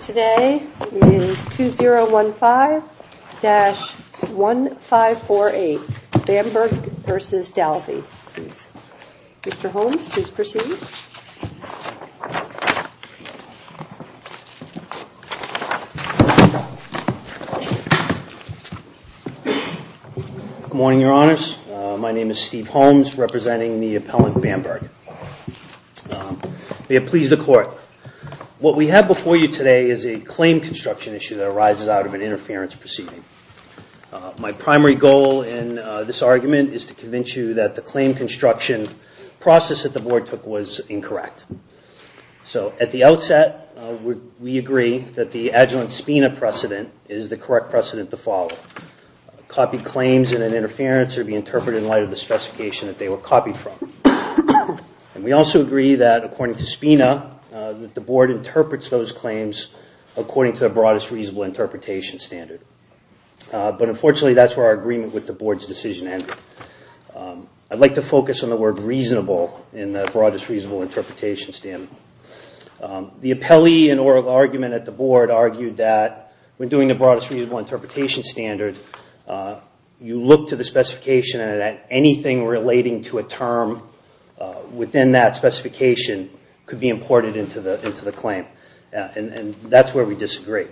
Today is 2015-1548 Bamberg v. Dalvey, please. Mr. Holmes, please proceed. Good morning, Your Honors. My name is Steve Holmes, representing the appellant Bamberg. May it please the Court, what we have before you today is a claim construction issue that arises out of an interference proceeding. My primary goal in this argument is to convince you that the claim construction process that the Board took was incorrect. So at the outset, we agree that the adjunct SPINA precedent is the correct precedent to follow. Copy claims in an interference or be interpreted in light of the specification that they were copied from. And we also agree that, according to SPINA, that the Board interprets those claims according to the broadest reasonable interpretation standard. But unfortunately, that's where our agreement with the Board's decision ended. I'd like to focus on the word reasonable in the broadest reasonable interpretation standard. The appellee in oral argument at the Board argued that when doing the broadest reasonable interpretation standard, you look to the specification and that anything relating to a term within that specification could be imported into the claim. And that's where we disagree.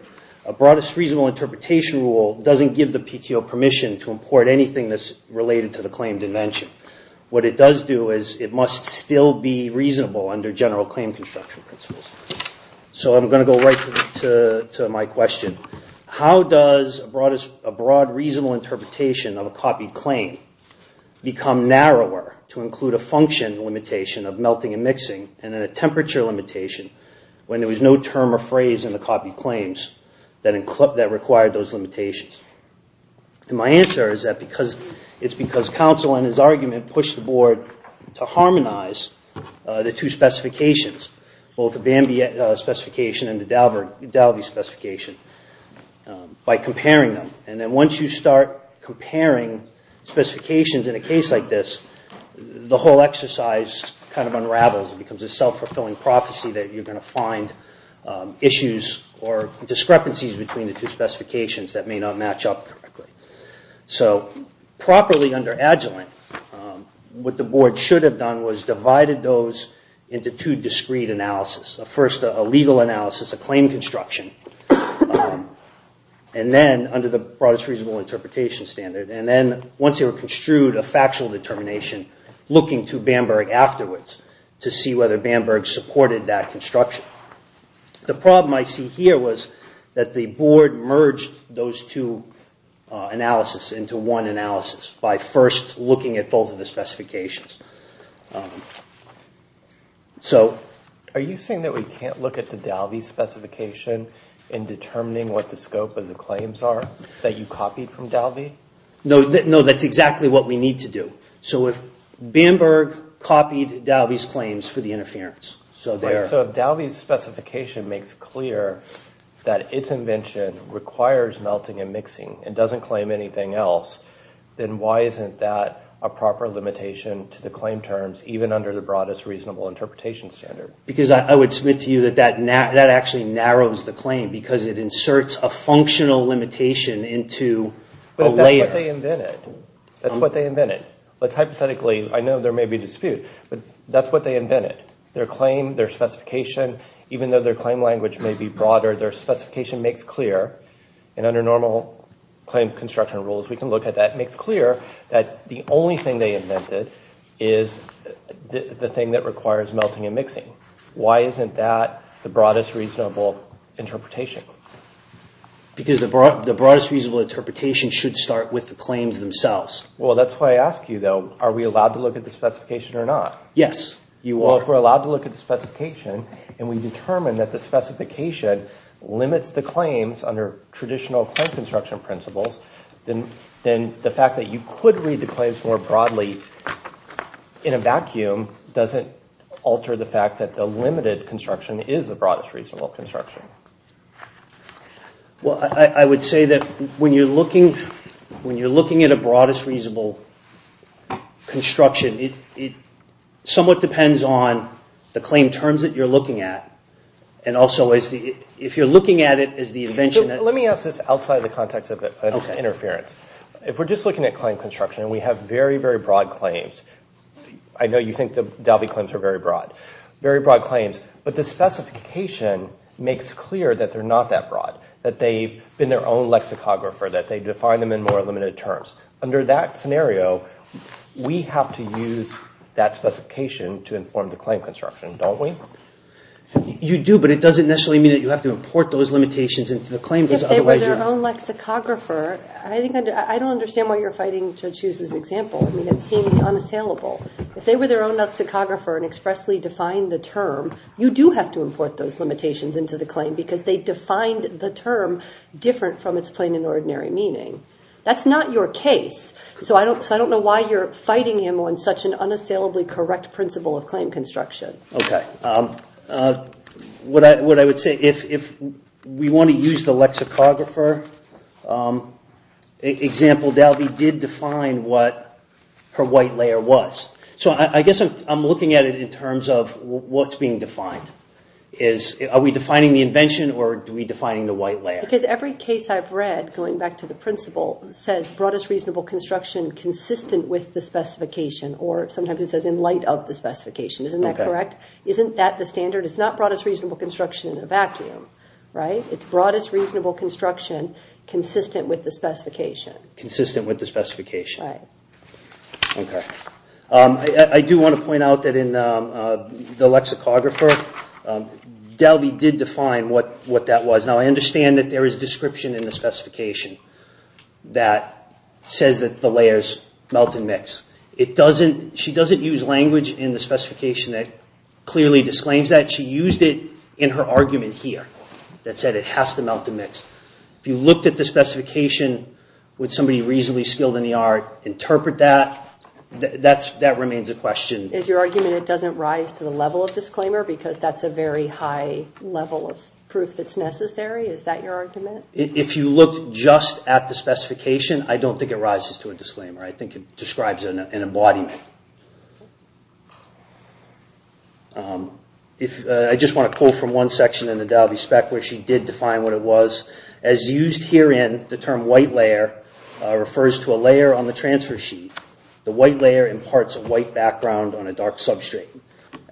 A broadest reasonable interpretation rule doesn't give the PTO permission to import anything that's related to the claimed invention. What it does do is it must still be reasonable under general claim construction principles. So I'm going to go right to my question. How does a broad reasonable interpretation of a copied claim become narrower to include a function limitation of melting and mixing and then a temperature limitation when there was no term or phrase in the copied claims that required those limitations? And my answer is that it's because counsel in his argument pushed the Board to harmonize the two specifications, both the Bambi specification and the Dalby specification, by comparing them. And then once you start comparing specifications in a case like this, the whole exercise kind of unravels and becomes a self-fulfilling prophecy that you're going to find issues or discrepancies between the two specifications that may not match up correctly. So properly under Agilent, what the Board should have done was divided those into two discrete analysis. First, a legal analysis, a claim construction, and then under the broadest reasonable interpretation standard. And then once they were construed, a factual determination looking to Bamberg afterwards to see whether Bamberg supported that construction. The problem I see here was that the Board merged those two analysis into one analysis by first looking at both of the specifications. Are you saying that we can't look at the Dalby specification in determining what the scope of the claims are that you copied from Dalby? No, that's exactly what we need to do. So if Bamberg copied Dalby's claims for the interference. So if Dalby's specification makes clear that its invention requires melting and mixing and doesn't claim anything else, then why isn't that a proper limitation to the claim terms, even under the broadest reasonable interpretation standard? Because I would submit to you that that actually narrows the claim because it inserts a functional limitation into a layer. But that's what they invented. That's what they invented. I know there may be a dispute, but that's what they invented. Their claim, their specification, even though their claim language may be broader, their specification makes clear. And under normal claim construction rules, we can look at that. It makes clear that the only thing they invented is the thing that requires melting and mixing. Why isn't that the broadest reasonable interpretation? Because the broadest reasonable interpretation should start with the claims themselves. Well, that's why I ask you, though, are we allowed to look at the specification or not? Yes. Well, if we're allowed to look at the specification and we determine that the specification limits the claims under traditional claim construction principles, then the fact that you could read the claims more broadly in a vacuum doesn't alter the fact that the limited construction is the broadest reasonable construction. Well, I would say that when you're looking at a broadest reasonable construction, it somewhat depends on the claim terms that you're looking at and also if you're looking at it as the invention. Let me ask this outside the context of interference. If we're just looking at claim construction and we have very, very broad claims, I know you think the Dalby claims are very broad, very broad claims, but the specification makes clear that they're not that broad, that they've been their own lexicographer, that they define them in more limited terms. Under that scenario, we have to use that specification to inform the claim construction, don't we? You do, but it doesn't necessarily mean that you have to import those limitations into the claim because otherwise you're – If they were their own lexicographer – I don't understand why you're fighting to choose this example. I mean, it seems unassailable. If they were their own lexicographer and expressly defined the term, you do have to import those limitations into the claim because they defined the term different from its plain and ordinary meaning. That's not your case, so I don't know why you're fighting him on such an unassailably correct principle of claim construction. Okay. What I would say, if we want to use the lexicographer example, Dalby did define what her white layer was. So I guess I'm looking at it in terms of what's being defined. Are we defining the invention or are we defining the white layer? Because every case I've read, going back to the principle, says broadest reasonable construction consistent with the specification or sometimes it says in light of the specification. Isn't that correct? Isn't that the standard? It's not broadest reasonable construction in a vacuum, right? It's broadest reasonable construction consistent with the specification. Consistent with the specification. Right. Okay. I do want to point out that in the lexicographer, Dalby did define what that was. Now, I understand that there is description in the specification that says that the layers melt and mix. She doesn't use language in the specification that clearly disclaims that. She used it in her argument here that said it has to melt and mix. If you looked at the specification with somebody reasonably skilled in the art, interpret that. That remains a question. Is your argument it doesn't rise to the level of disclaimer because that's a very high level of proof that's necessary? Is that your argument? If you looked just at the specification, I don't think it rises to a disclaimer. I think it describes an embodiment. I just want to quote from one section in the Dalby spec where she did define what it was. As used herein, the term white layer refers to a layer on the transfer sheet. The white layer imparts a white background on a dark substrate.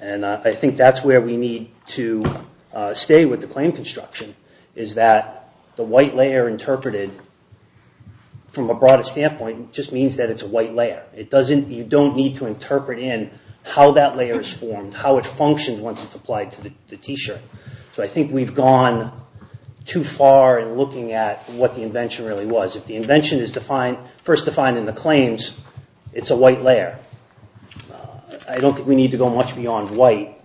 I think that's where we need to stay with the claim construction is that the white layer interpreted from a broadest standpoint just means that it's a white layer. You don't need to interpret in how that layer is formed, how it functions once it's applied to the T-shirt. So I think we've gone too far in looking at what the invention really was. If the invention is first defined in the claims, it's a white layer. I don't think we need to go much beyond white.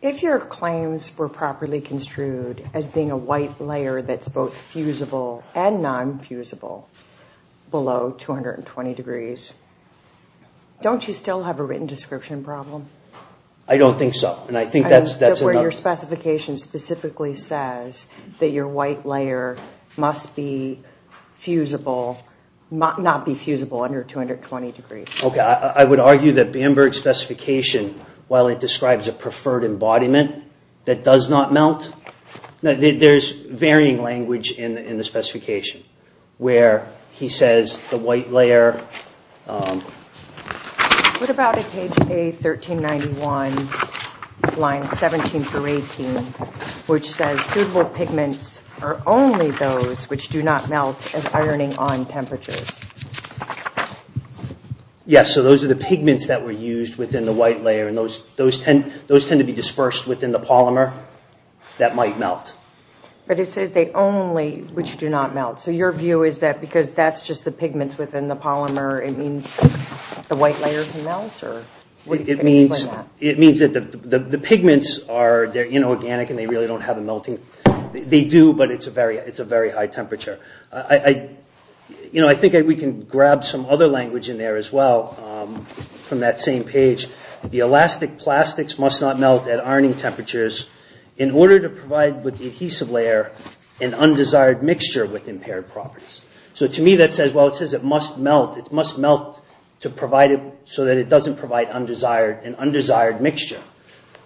If your claims were properly construed as being a white layer that's both fusible and non-fusible below 220 degrees, don't you still have a written description problem? I don't think so. Where your specification specifically says that your white layer must not be fusible under 220 degrees. I would argue that Bamberg's specification, while it describes a preferred embodiment that does not melt, there's varying language in the specification where he says the white layer... What about a page A1391, line 17 through 18, which says, Suitable pigments are only those which do not melt at ironing-on temperatures. Yes, so those are the pigments that were used within the white layer, and those tend to be dispersed within the polymer that might melt. But it says they only, which do not melt. So your view is that because that's just the pigments within the polymer, it means the white layer can melt? It means that the pigments are inorganic and they really don't have a melting... They do, but it's a very high temperature. I think we can grab some other language in there as well from that same page. The elastic plastics must not melt at ironing temperatures in order to provide with the adhesive layer an undesired mixture with impaired properties. So to me that says, well, it says it must melt. It must melt so that it doesn't provide an undesired mixture.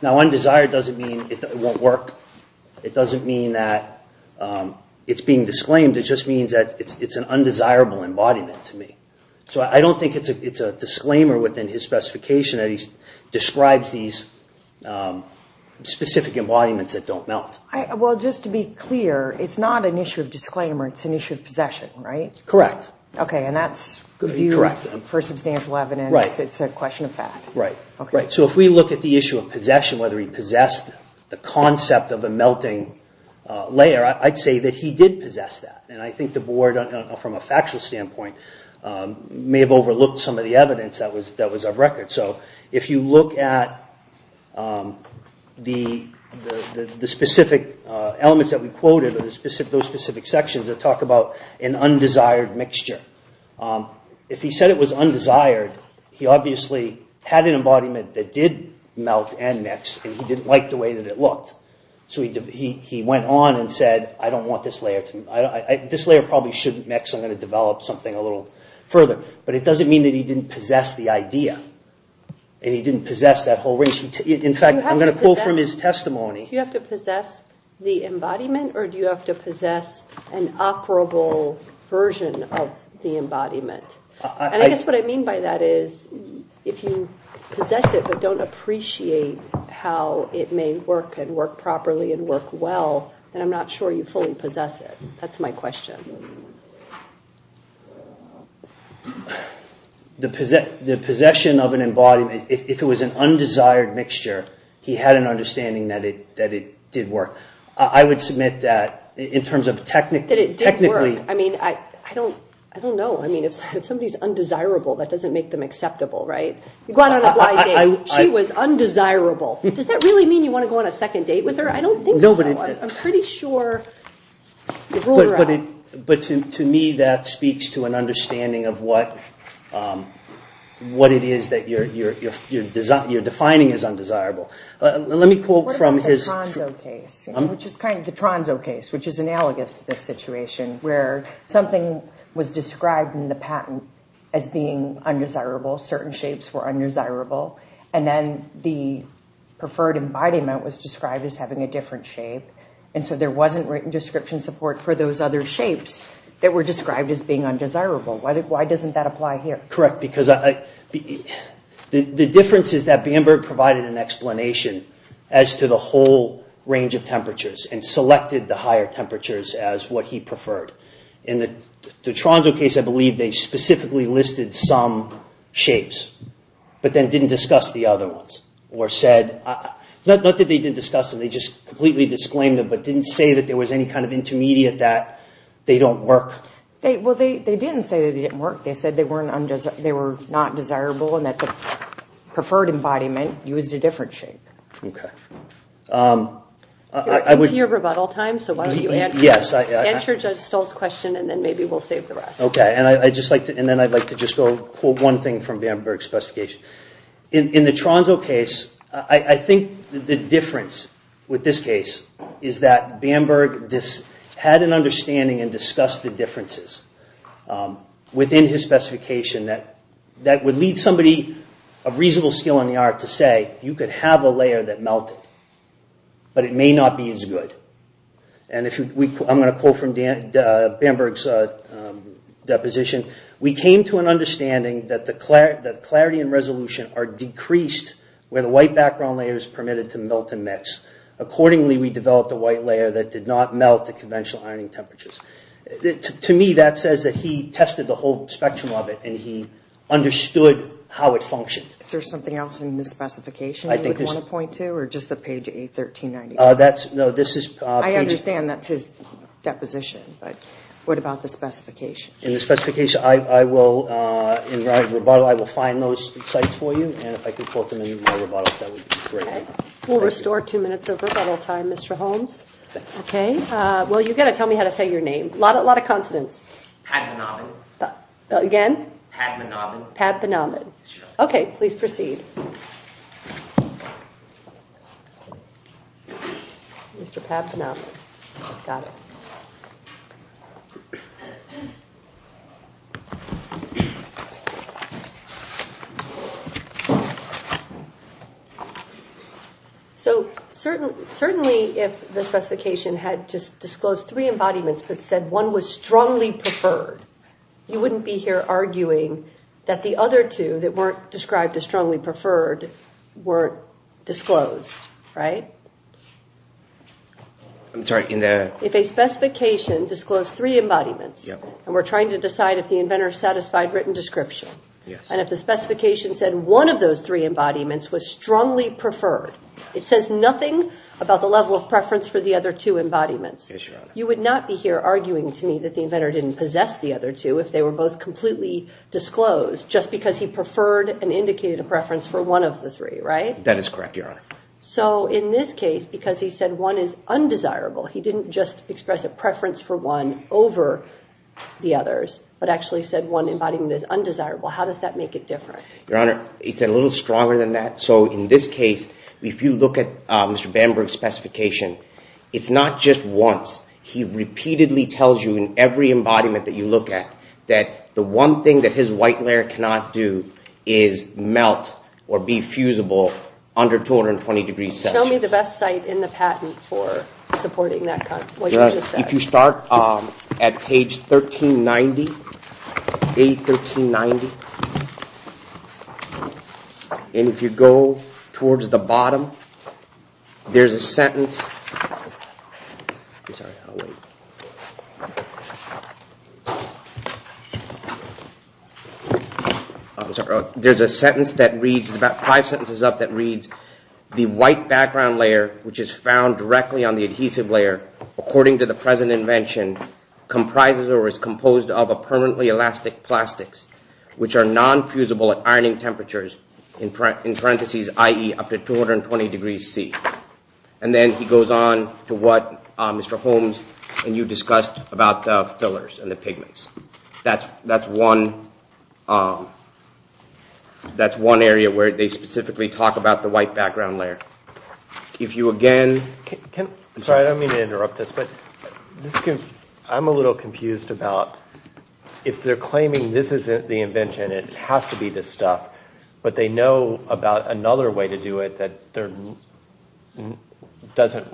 Now undesired doesn't mean it won't work. It doesn't mean that it's being disclaimed. It just means that it's an undesirable embodiment to me. So I don't think it's a disclaimer within his specification that he describes these specific embodiments that don't melt. Well, just to be clear, it's not an issue of disclaimer. It's an issue of possession, right? Correct. Okay, and that's for substantial evidence. It's a question of fact. Right. So if we look at the issue of possession, whether he possessed the concept of a melting layer, I'd say that he did possess that. And I think the Board, from a factual standpoint, may have overlooked some of the evidence that was of record. So if you look at the specific elements that we quoted, those specific sections that talk about an undesired mixture, if he said it was undesired, he obviously had an embodiment that did melt and mix, and he didn't like the way that it looked. So he went on and said, I don't want this layer. This layer probably shouldn't mix. I'm going to develop something a little further. But it doesn't mean that he didn't possess the idea and he didn't possess that whole range. In fact, I'm going to quote from his testimony. Do you have to possess the embodiment or do you have to possess an operable version of the embodiment? And I guess what I mean by that is if you possess it but don't appreciate how it may work and work properly and work well, then I'm not sure you fully possess it. That's my question. The possession of an embodiment, if it was an undesired mixture, he had an understanding that it did work. I would submit that in terms of technically... That it did work. I mean, I don't know. I mean, if somebody's undesirable, that doesn't make them acceptable, right? You go out on a blind date. She was undesirable. Does that really mean you want to go on a second date with her? I don't think so. I'm pretty sure... But to me, that speaks to an understanding of what it is that you're defining as undesirable. Let me quote from his... The Tronzo case, which is analogous to this situation where something was described in the patent as being undesirable, certain shapes were undesirable, and then the preferred embodiment was described as having a different shape, and so there wasn't written description support for those other shapes that were described as being undesirable. Why doesn't that apply here? Correct, because the difference is that Bamberg provided an explanation as to the whole range of temperatures and selected the higher temperatures as what he preferred. In the Tronzo case, I believe they specifically listed some shapes, but then didn't discuss the other ones, or said... Not that they didn't discuss them, they just completely disclaimed them, but didn't say that there was any kind of intermediate that they don't work. Well, they didn't say that they didn't work. They said they were not desirable and that the preferred embodiment used a different shape. Okay. We're into your rebuttal time, so why don't you answer Judge Stoll's question and then maybe we'll save the rest. Okay, and then I'd like to just quote one thing from Bamberg's specification. In the Tronzo case, I think the difference with this case is that Bamberg had an understanding and discussed the differences within his specification that would lead somebody of reasonable skill in the art to say, you could have a layer that melted, but it may not be as good. And I'm going to quote from Bamberg's deposition. We came to an understanding that the clarity and resolution are decreased where the white background layer is permitted to melt and mix. Accordingly, we developed a white layer that did not melt to conventional ironing temperatures. To me, that says that he tested the whole spectrum of it and he understood how it functioned. Is there something else in the specification you would want to point to or just the page 813.91? I understand that's his deposition, but what about the specification? In the rebuttal, I will find those sites for you, and if I could quote them in my rebuttal, that would be great. We'll restore two minutes of rebuttal time, Mr. Holmes. Well, you've got to tell me how to say your name. A lot of consonants. Padmanabhan. Again? Padmanabhan. Padmanabhan. Okay, please proceed. Mr. Padmanabhan. Got it. So certainly if the specification had just disclosed three embodiments but said one was strongly preferred, you wouldn't be here arguing that the other two that weren't described as strongly preferred weren't disclosed, right? I'm sorry. If a specification disclosed three embodiments, and we're trying to decide if the inventor satisfied written description, and if the specification said one of those three embodiments was strongly preferred, it says nothing about the level of preference for the other two embodiments. Yes, Your Honor. You would not be here arguing to me that the inventor didn't possess the other two if they were both completely disclosed, just because he preferred and indicated a preference for one of the three, right? That is correct, Your Honor. So in this case, because he said one is undesirable, he didn't just express a preference for one over the others, but actually said one embodiment is undesirable. How does that make it different? Your Honor, it's a little stronger than that. So in this case, if you look at Mr. Bamberg's specification, it's not just once. He repeatedly tells you in every embodiment that you look at that the one thing that his white layer cannot do is melt or be fusible under 220-degree Celsius. Show me the best site in the patent for supporting that, what you just said. If you start at page 1390, A1390, and if you go towards the bottom, there's a sentence that reads, there's about five sentences up that reads, the white background layer, which is found directly on the adhesive layer, according to the present invention, comprises or is composed of a permanently elastic plastics, which are non-fusible at ironing temperatures, in parentheses, i.e., up to 220 degrees C. And then he goes on to what Mr. Holmes and you discussed about the fillers and the pigments. That's one area where they specifically talk about the white background layer. If you again... Sorry, I don't mean to interrupt this, but I'm a little confused about, if they're claiming this isn't the invention, it has to be this stuff, but they know about another way to do it that doesn't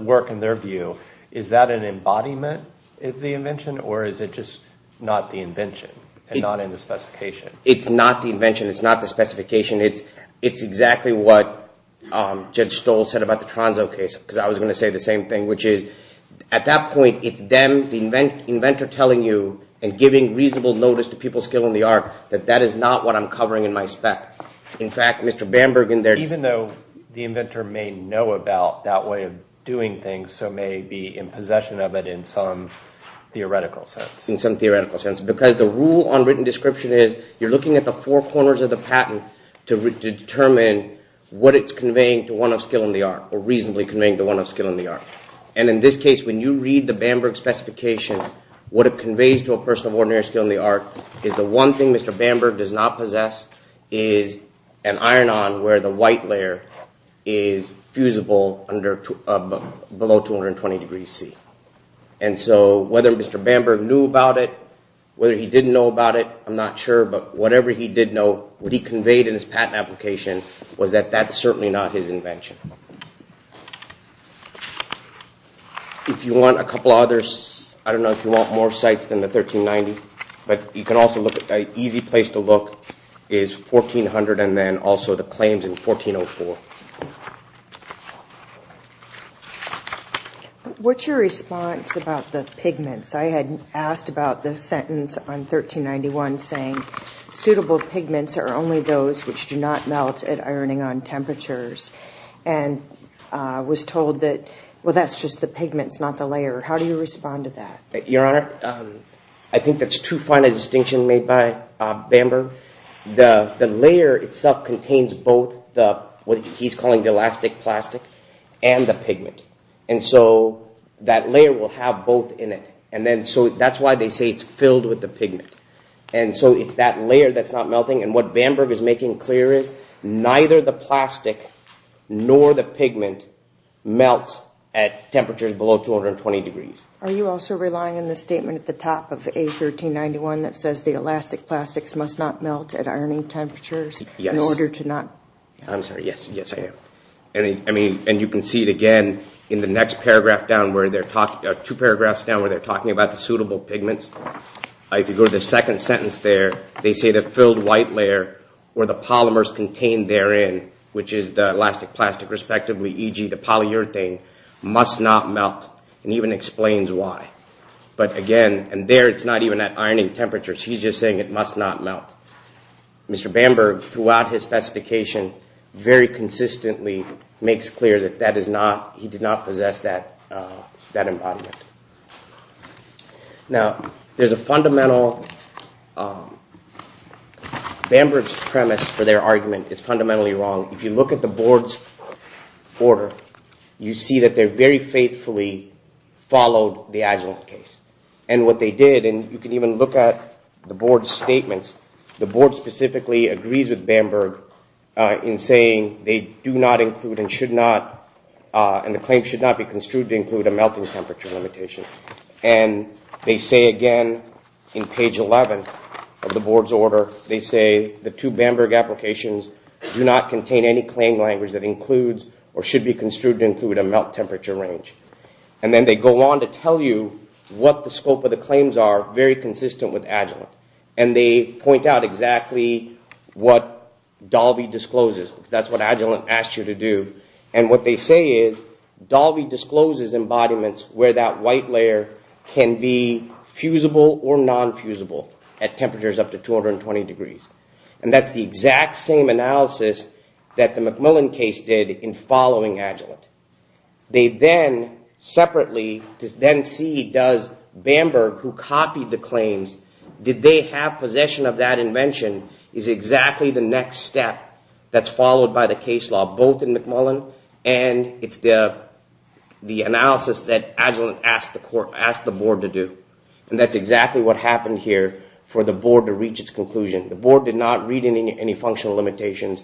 work in their view, is that an embodiment of the invention, or is it just not the invention and not in the specification? It's not the invention. It's not the specification. It's exactly what Judge Stoll said about the Tronzo case, because I was going to say the same thing, which is, at that point, it's them, the inventor, telling you and giving reasonable notice to people's skill in the art that that is not what I'm covering in my spec. In fact, Mr. Bamberg in there... in some theoretical sense. In some theoretical sense, because the rule on written description is, you're looking at the four corners of the patent to determine what it's conveying to one of skill in the art, or reasonably conveying to one of skill in the art. And in this case, when you read the Bamberg specification, what it conveys to a person of ordinary skill in the art is the one thing Mr. Bamberg does not possess is an iron-on where the white layer is fusible below 220 degrees C. And so whether Mr. Bamberg knew about it, whether he didn't know about it, I'm not sure, but whatever he did know, what he conveyed in his patent application, was that that's certainly not his invention. If you want a couple others, I don't know if you want more sites than the 1390, but you can also look... an easy place to look is 1400 and then also the claims in 1404. What's your response about the pigments? I had asked about the sentence on 1391 saying, suitable pigments are only those which do not melt at ironing-on temperatures, and was told that, well, that's just the pigments, not the layer. How do you respond to that? Your Honor, I think that's too fine a distinction made by Bamberg. The layer itself contains both what he's calling the elastic plastic and the pigment. And so that layer will have both in it. And then so that's why they say it's filled with the pigment. And so it's that layer that's not melting. And what Bamberg is making clear is, neither the plastic nor the pigment melts at temperatures below 220 degrees. Are you also relying on the statement at the top of A1391 that says the elastic plastics must not melt at ironing temperatures in order to not... Yes. I'm sorry. Yes, I am. And you can see it again in the next paragraph down where they're talking... two paragraphs down where they're talking about the suitable pigments. If you go to the second sentence there, they say the filled white layer where the polymers contained therein, which is the elastic plastic respectively, e.g. the polyurethane, must not melt and even explains why. But again, and there it's not even at ironing temperatures. He's just saying it must not melt. Mr. Bamberg, throughout his specification, very consistently makes clear that he did not possess that embodiment. Now, there's a fundamental... Bamberg's premise for their argument is fundamentally wrong. If you look at the board's order, you see that they very faithfully followed the Agilent case. And what they did, and you can even look at the board's statements, the board specifically agrees with Bamberg in saying they do not include and should not... and the claim should not be construed to include a melting temperature limitation. And they say again in page 11 of the board's order, they say the two Bamberg applications do not contain any claim language that includes or should be construed to include a melt temperature range. And then they go on to tell you what the scope of the claims are, very consistent with Agilent. And they point out exactly what Dalby discloses. That's what Agilent asked you to do. And what they say is Dalby discloses embodiments where that white layer can be fusible or non-fusible at temperatures up to 220 degrees. And that's the exact same analysis that the McMullen case did in following Agilent. They then separately then see does Bamberg, who copied the claims, did they have possession of that invention, is exactly the next step that's followed by the case law, both in McMullen and it's the analysis that Agilent asked the court... asked the board to do. And that's exactly what happened here for the board to reach its conclusion. The board did not read any functional limitations.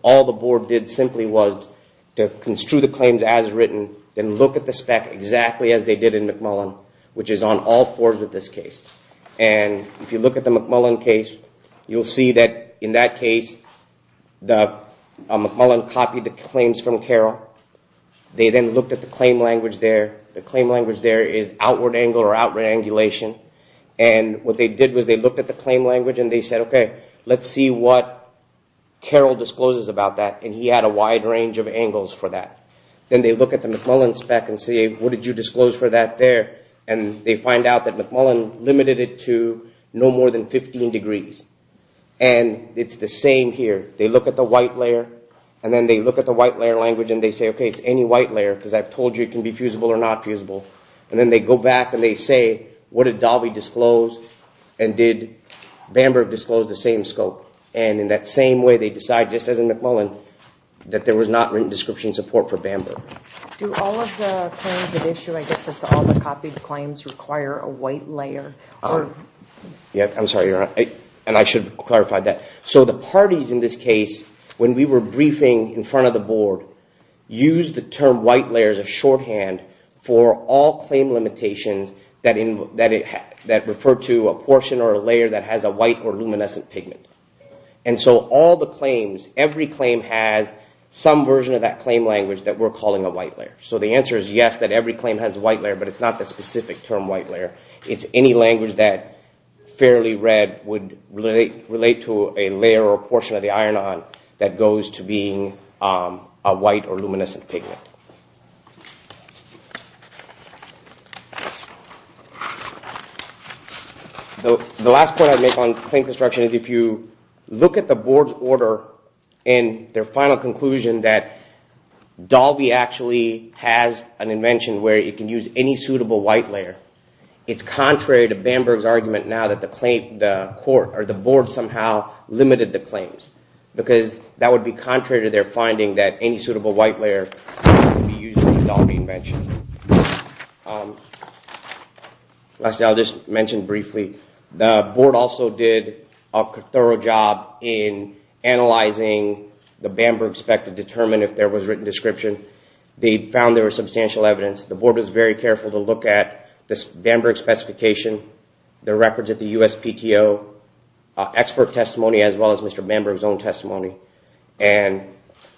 All the board did simply was to construe the claims as written and look at the spec exactly as they did in McMullen, which is on all fours with this case. And if you look at the McMullen case, you'll see that in that case, the McMullen copied the claims from Carroll. They then looked at the claim language there. The claim language there is outward angle or outward angulation. And what they did was they looked at the claim language and they said, okay, let's see what Carroll discloses about that. And he had a wide range of angles for that. Then they look at the McMullen spec and say, what did you disclose for that there? And they find out that McMullen limited it to no more than 15 degrees. And it's the same here. They look at the white layer and then they look at the white layer language and they say, okay, it's any white layer because I've told you it can be fusible or not fusible. And then they go back and they say, what did Dalvey disclose and did Bamberg disclose the same scope? And in that same way, they decide, just as in McMullen, that there was not written description support for Bamberg. Do all of the claims at issue, I guess that's all the copied claims, require a white layer? I'm sorry, Your Honor, and I should clarify that. So the parties in this case, when we were briefing in front of the board, used the term white layer as a shorthand for all claim limitations that refer to a portion or a layer that has a white or luminescent pigment. And so all the claims, every claim has some version of that claim language that we're calling a white layer. So the answer is yes, that every claim has a white layer, but it's not the specific term white layer. It's any language that, fairly read, would relate to a layer or a portion of the iron-on that goes to being a white or luminescent pigment. The last point I'd make on claim construction is if you look at the board's order and their final conclusion that Dalvey actually has an invention where it can use any suitable white layer, it's contrary to Bamberg's argument now that the board somehow limited the claims because that would be contrary to their finding that any suitable white layer could be used in the Dalvey invention. Lastly, I'll just mention briefly, the board also did a thorough job in analyzing the Bamberg spec to determine if there was written description. They found there was substantial evidence. The board was very careful to look at this Bamberg specification, their records at the USPTO, expert testimony as well as Mr. Bamberg's own testimony, and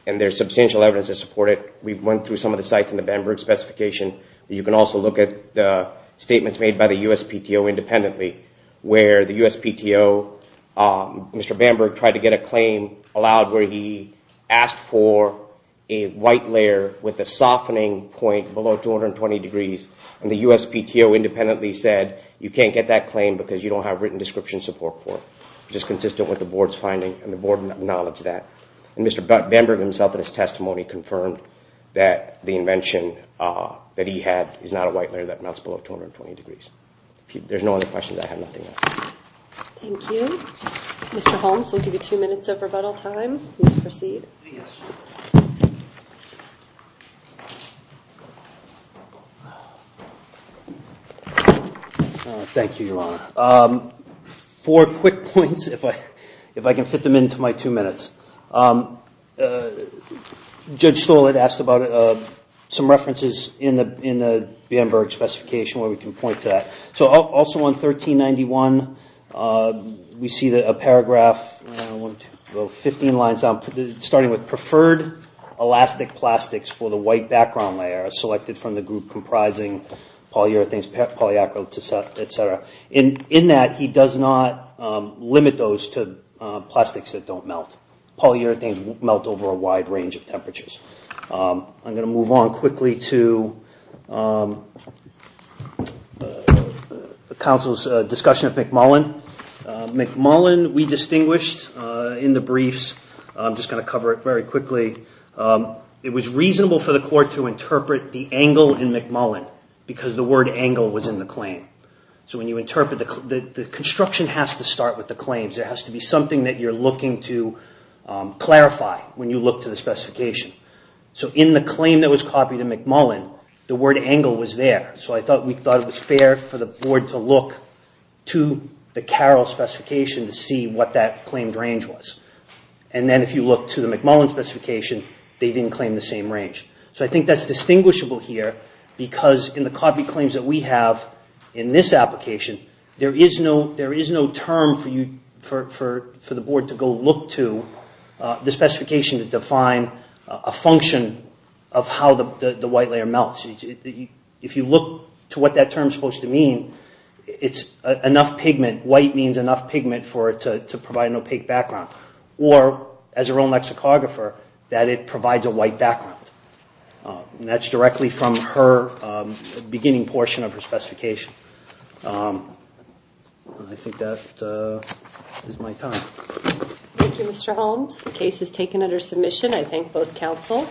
there's substantial evidence to support it. We went through some of the sites in the Bamberg specification. You can also look at the statements made by the USPTO independently where the USPTO, Mr. Bamberg tried to get a claim allowed where he asked for a white layer with a softening point below 220 degrees, and the USPTO independently said you can't get that claim because you don't have written description support for it, which is consistent with the board's finding, and the board acknowledged that. Mr. Bamberg himself in his testimony confirmed that the invention that he had is not a white layer that melts below 220 degrees. If there's no other questions, I have nothing else. Thank you. Mr. Holmes, we'll give you two minutes of rebuttal time. Please proceed. Yes. Thank you, Your Honor. Four quick points, if I can fit them into my two minutes. Judge Stoll had asked about some references in the Bamberg specification where we can point to that. Also on 1391, we see a paragraph, 15 lines down, starting with preferred elastic plastics for the white background layer selected from the group comprising polyurethanes, polyacrylates, et cetera. In that, he does not limit those to plastics that don't melt. Polyurethanes melt over a wide range of temperatures. I'm going to move on quickly to counsel's discussion of McMullen. McMullen we distinguished in the briefs. I'm just going to cover it very quickly. It was reasonable for the court to interpret the angle in McMullen because the word angle was in the claim. So when you interpret the construction has to start with the claims. There has to be something that you're looking to clarify when you look to the specification. So in the claim that was copied in McMullen, the word angle was there. So we thought it was fair for the board to look to the Carroll specification to see what that claimed range was. And then if you look to the McMullen specification, they didn't claim the same range. So I think that's distinguishable here because in the copy claims that we have in this application, there is no term for the board to go look to the specification to define a function of how the white layer melts. If you look to what that term is supposed to mean, it's enough pigment, white means enough pigment to provide an opaque background. Or as her own lexicographer, that it provides a white background. I think that is my time. Thank you, Mr. Holmes. The case is taken under submission. I thank both counsel.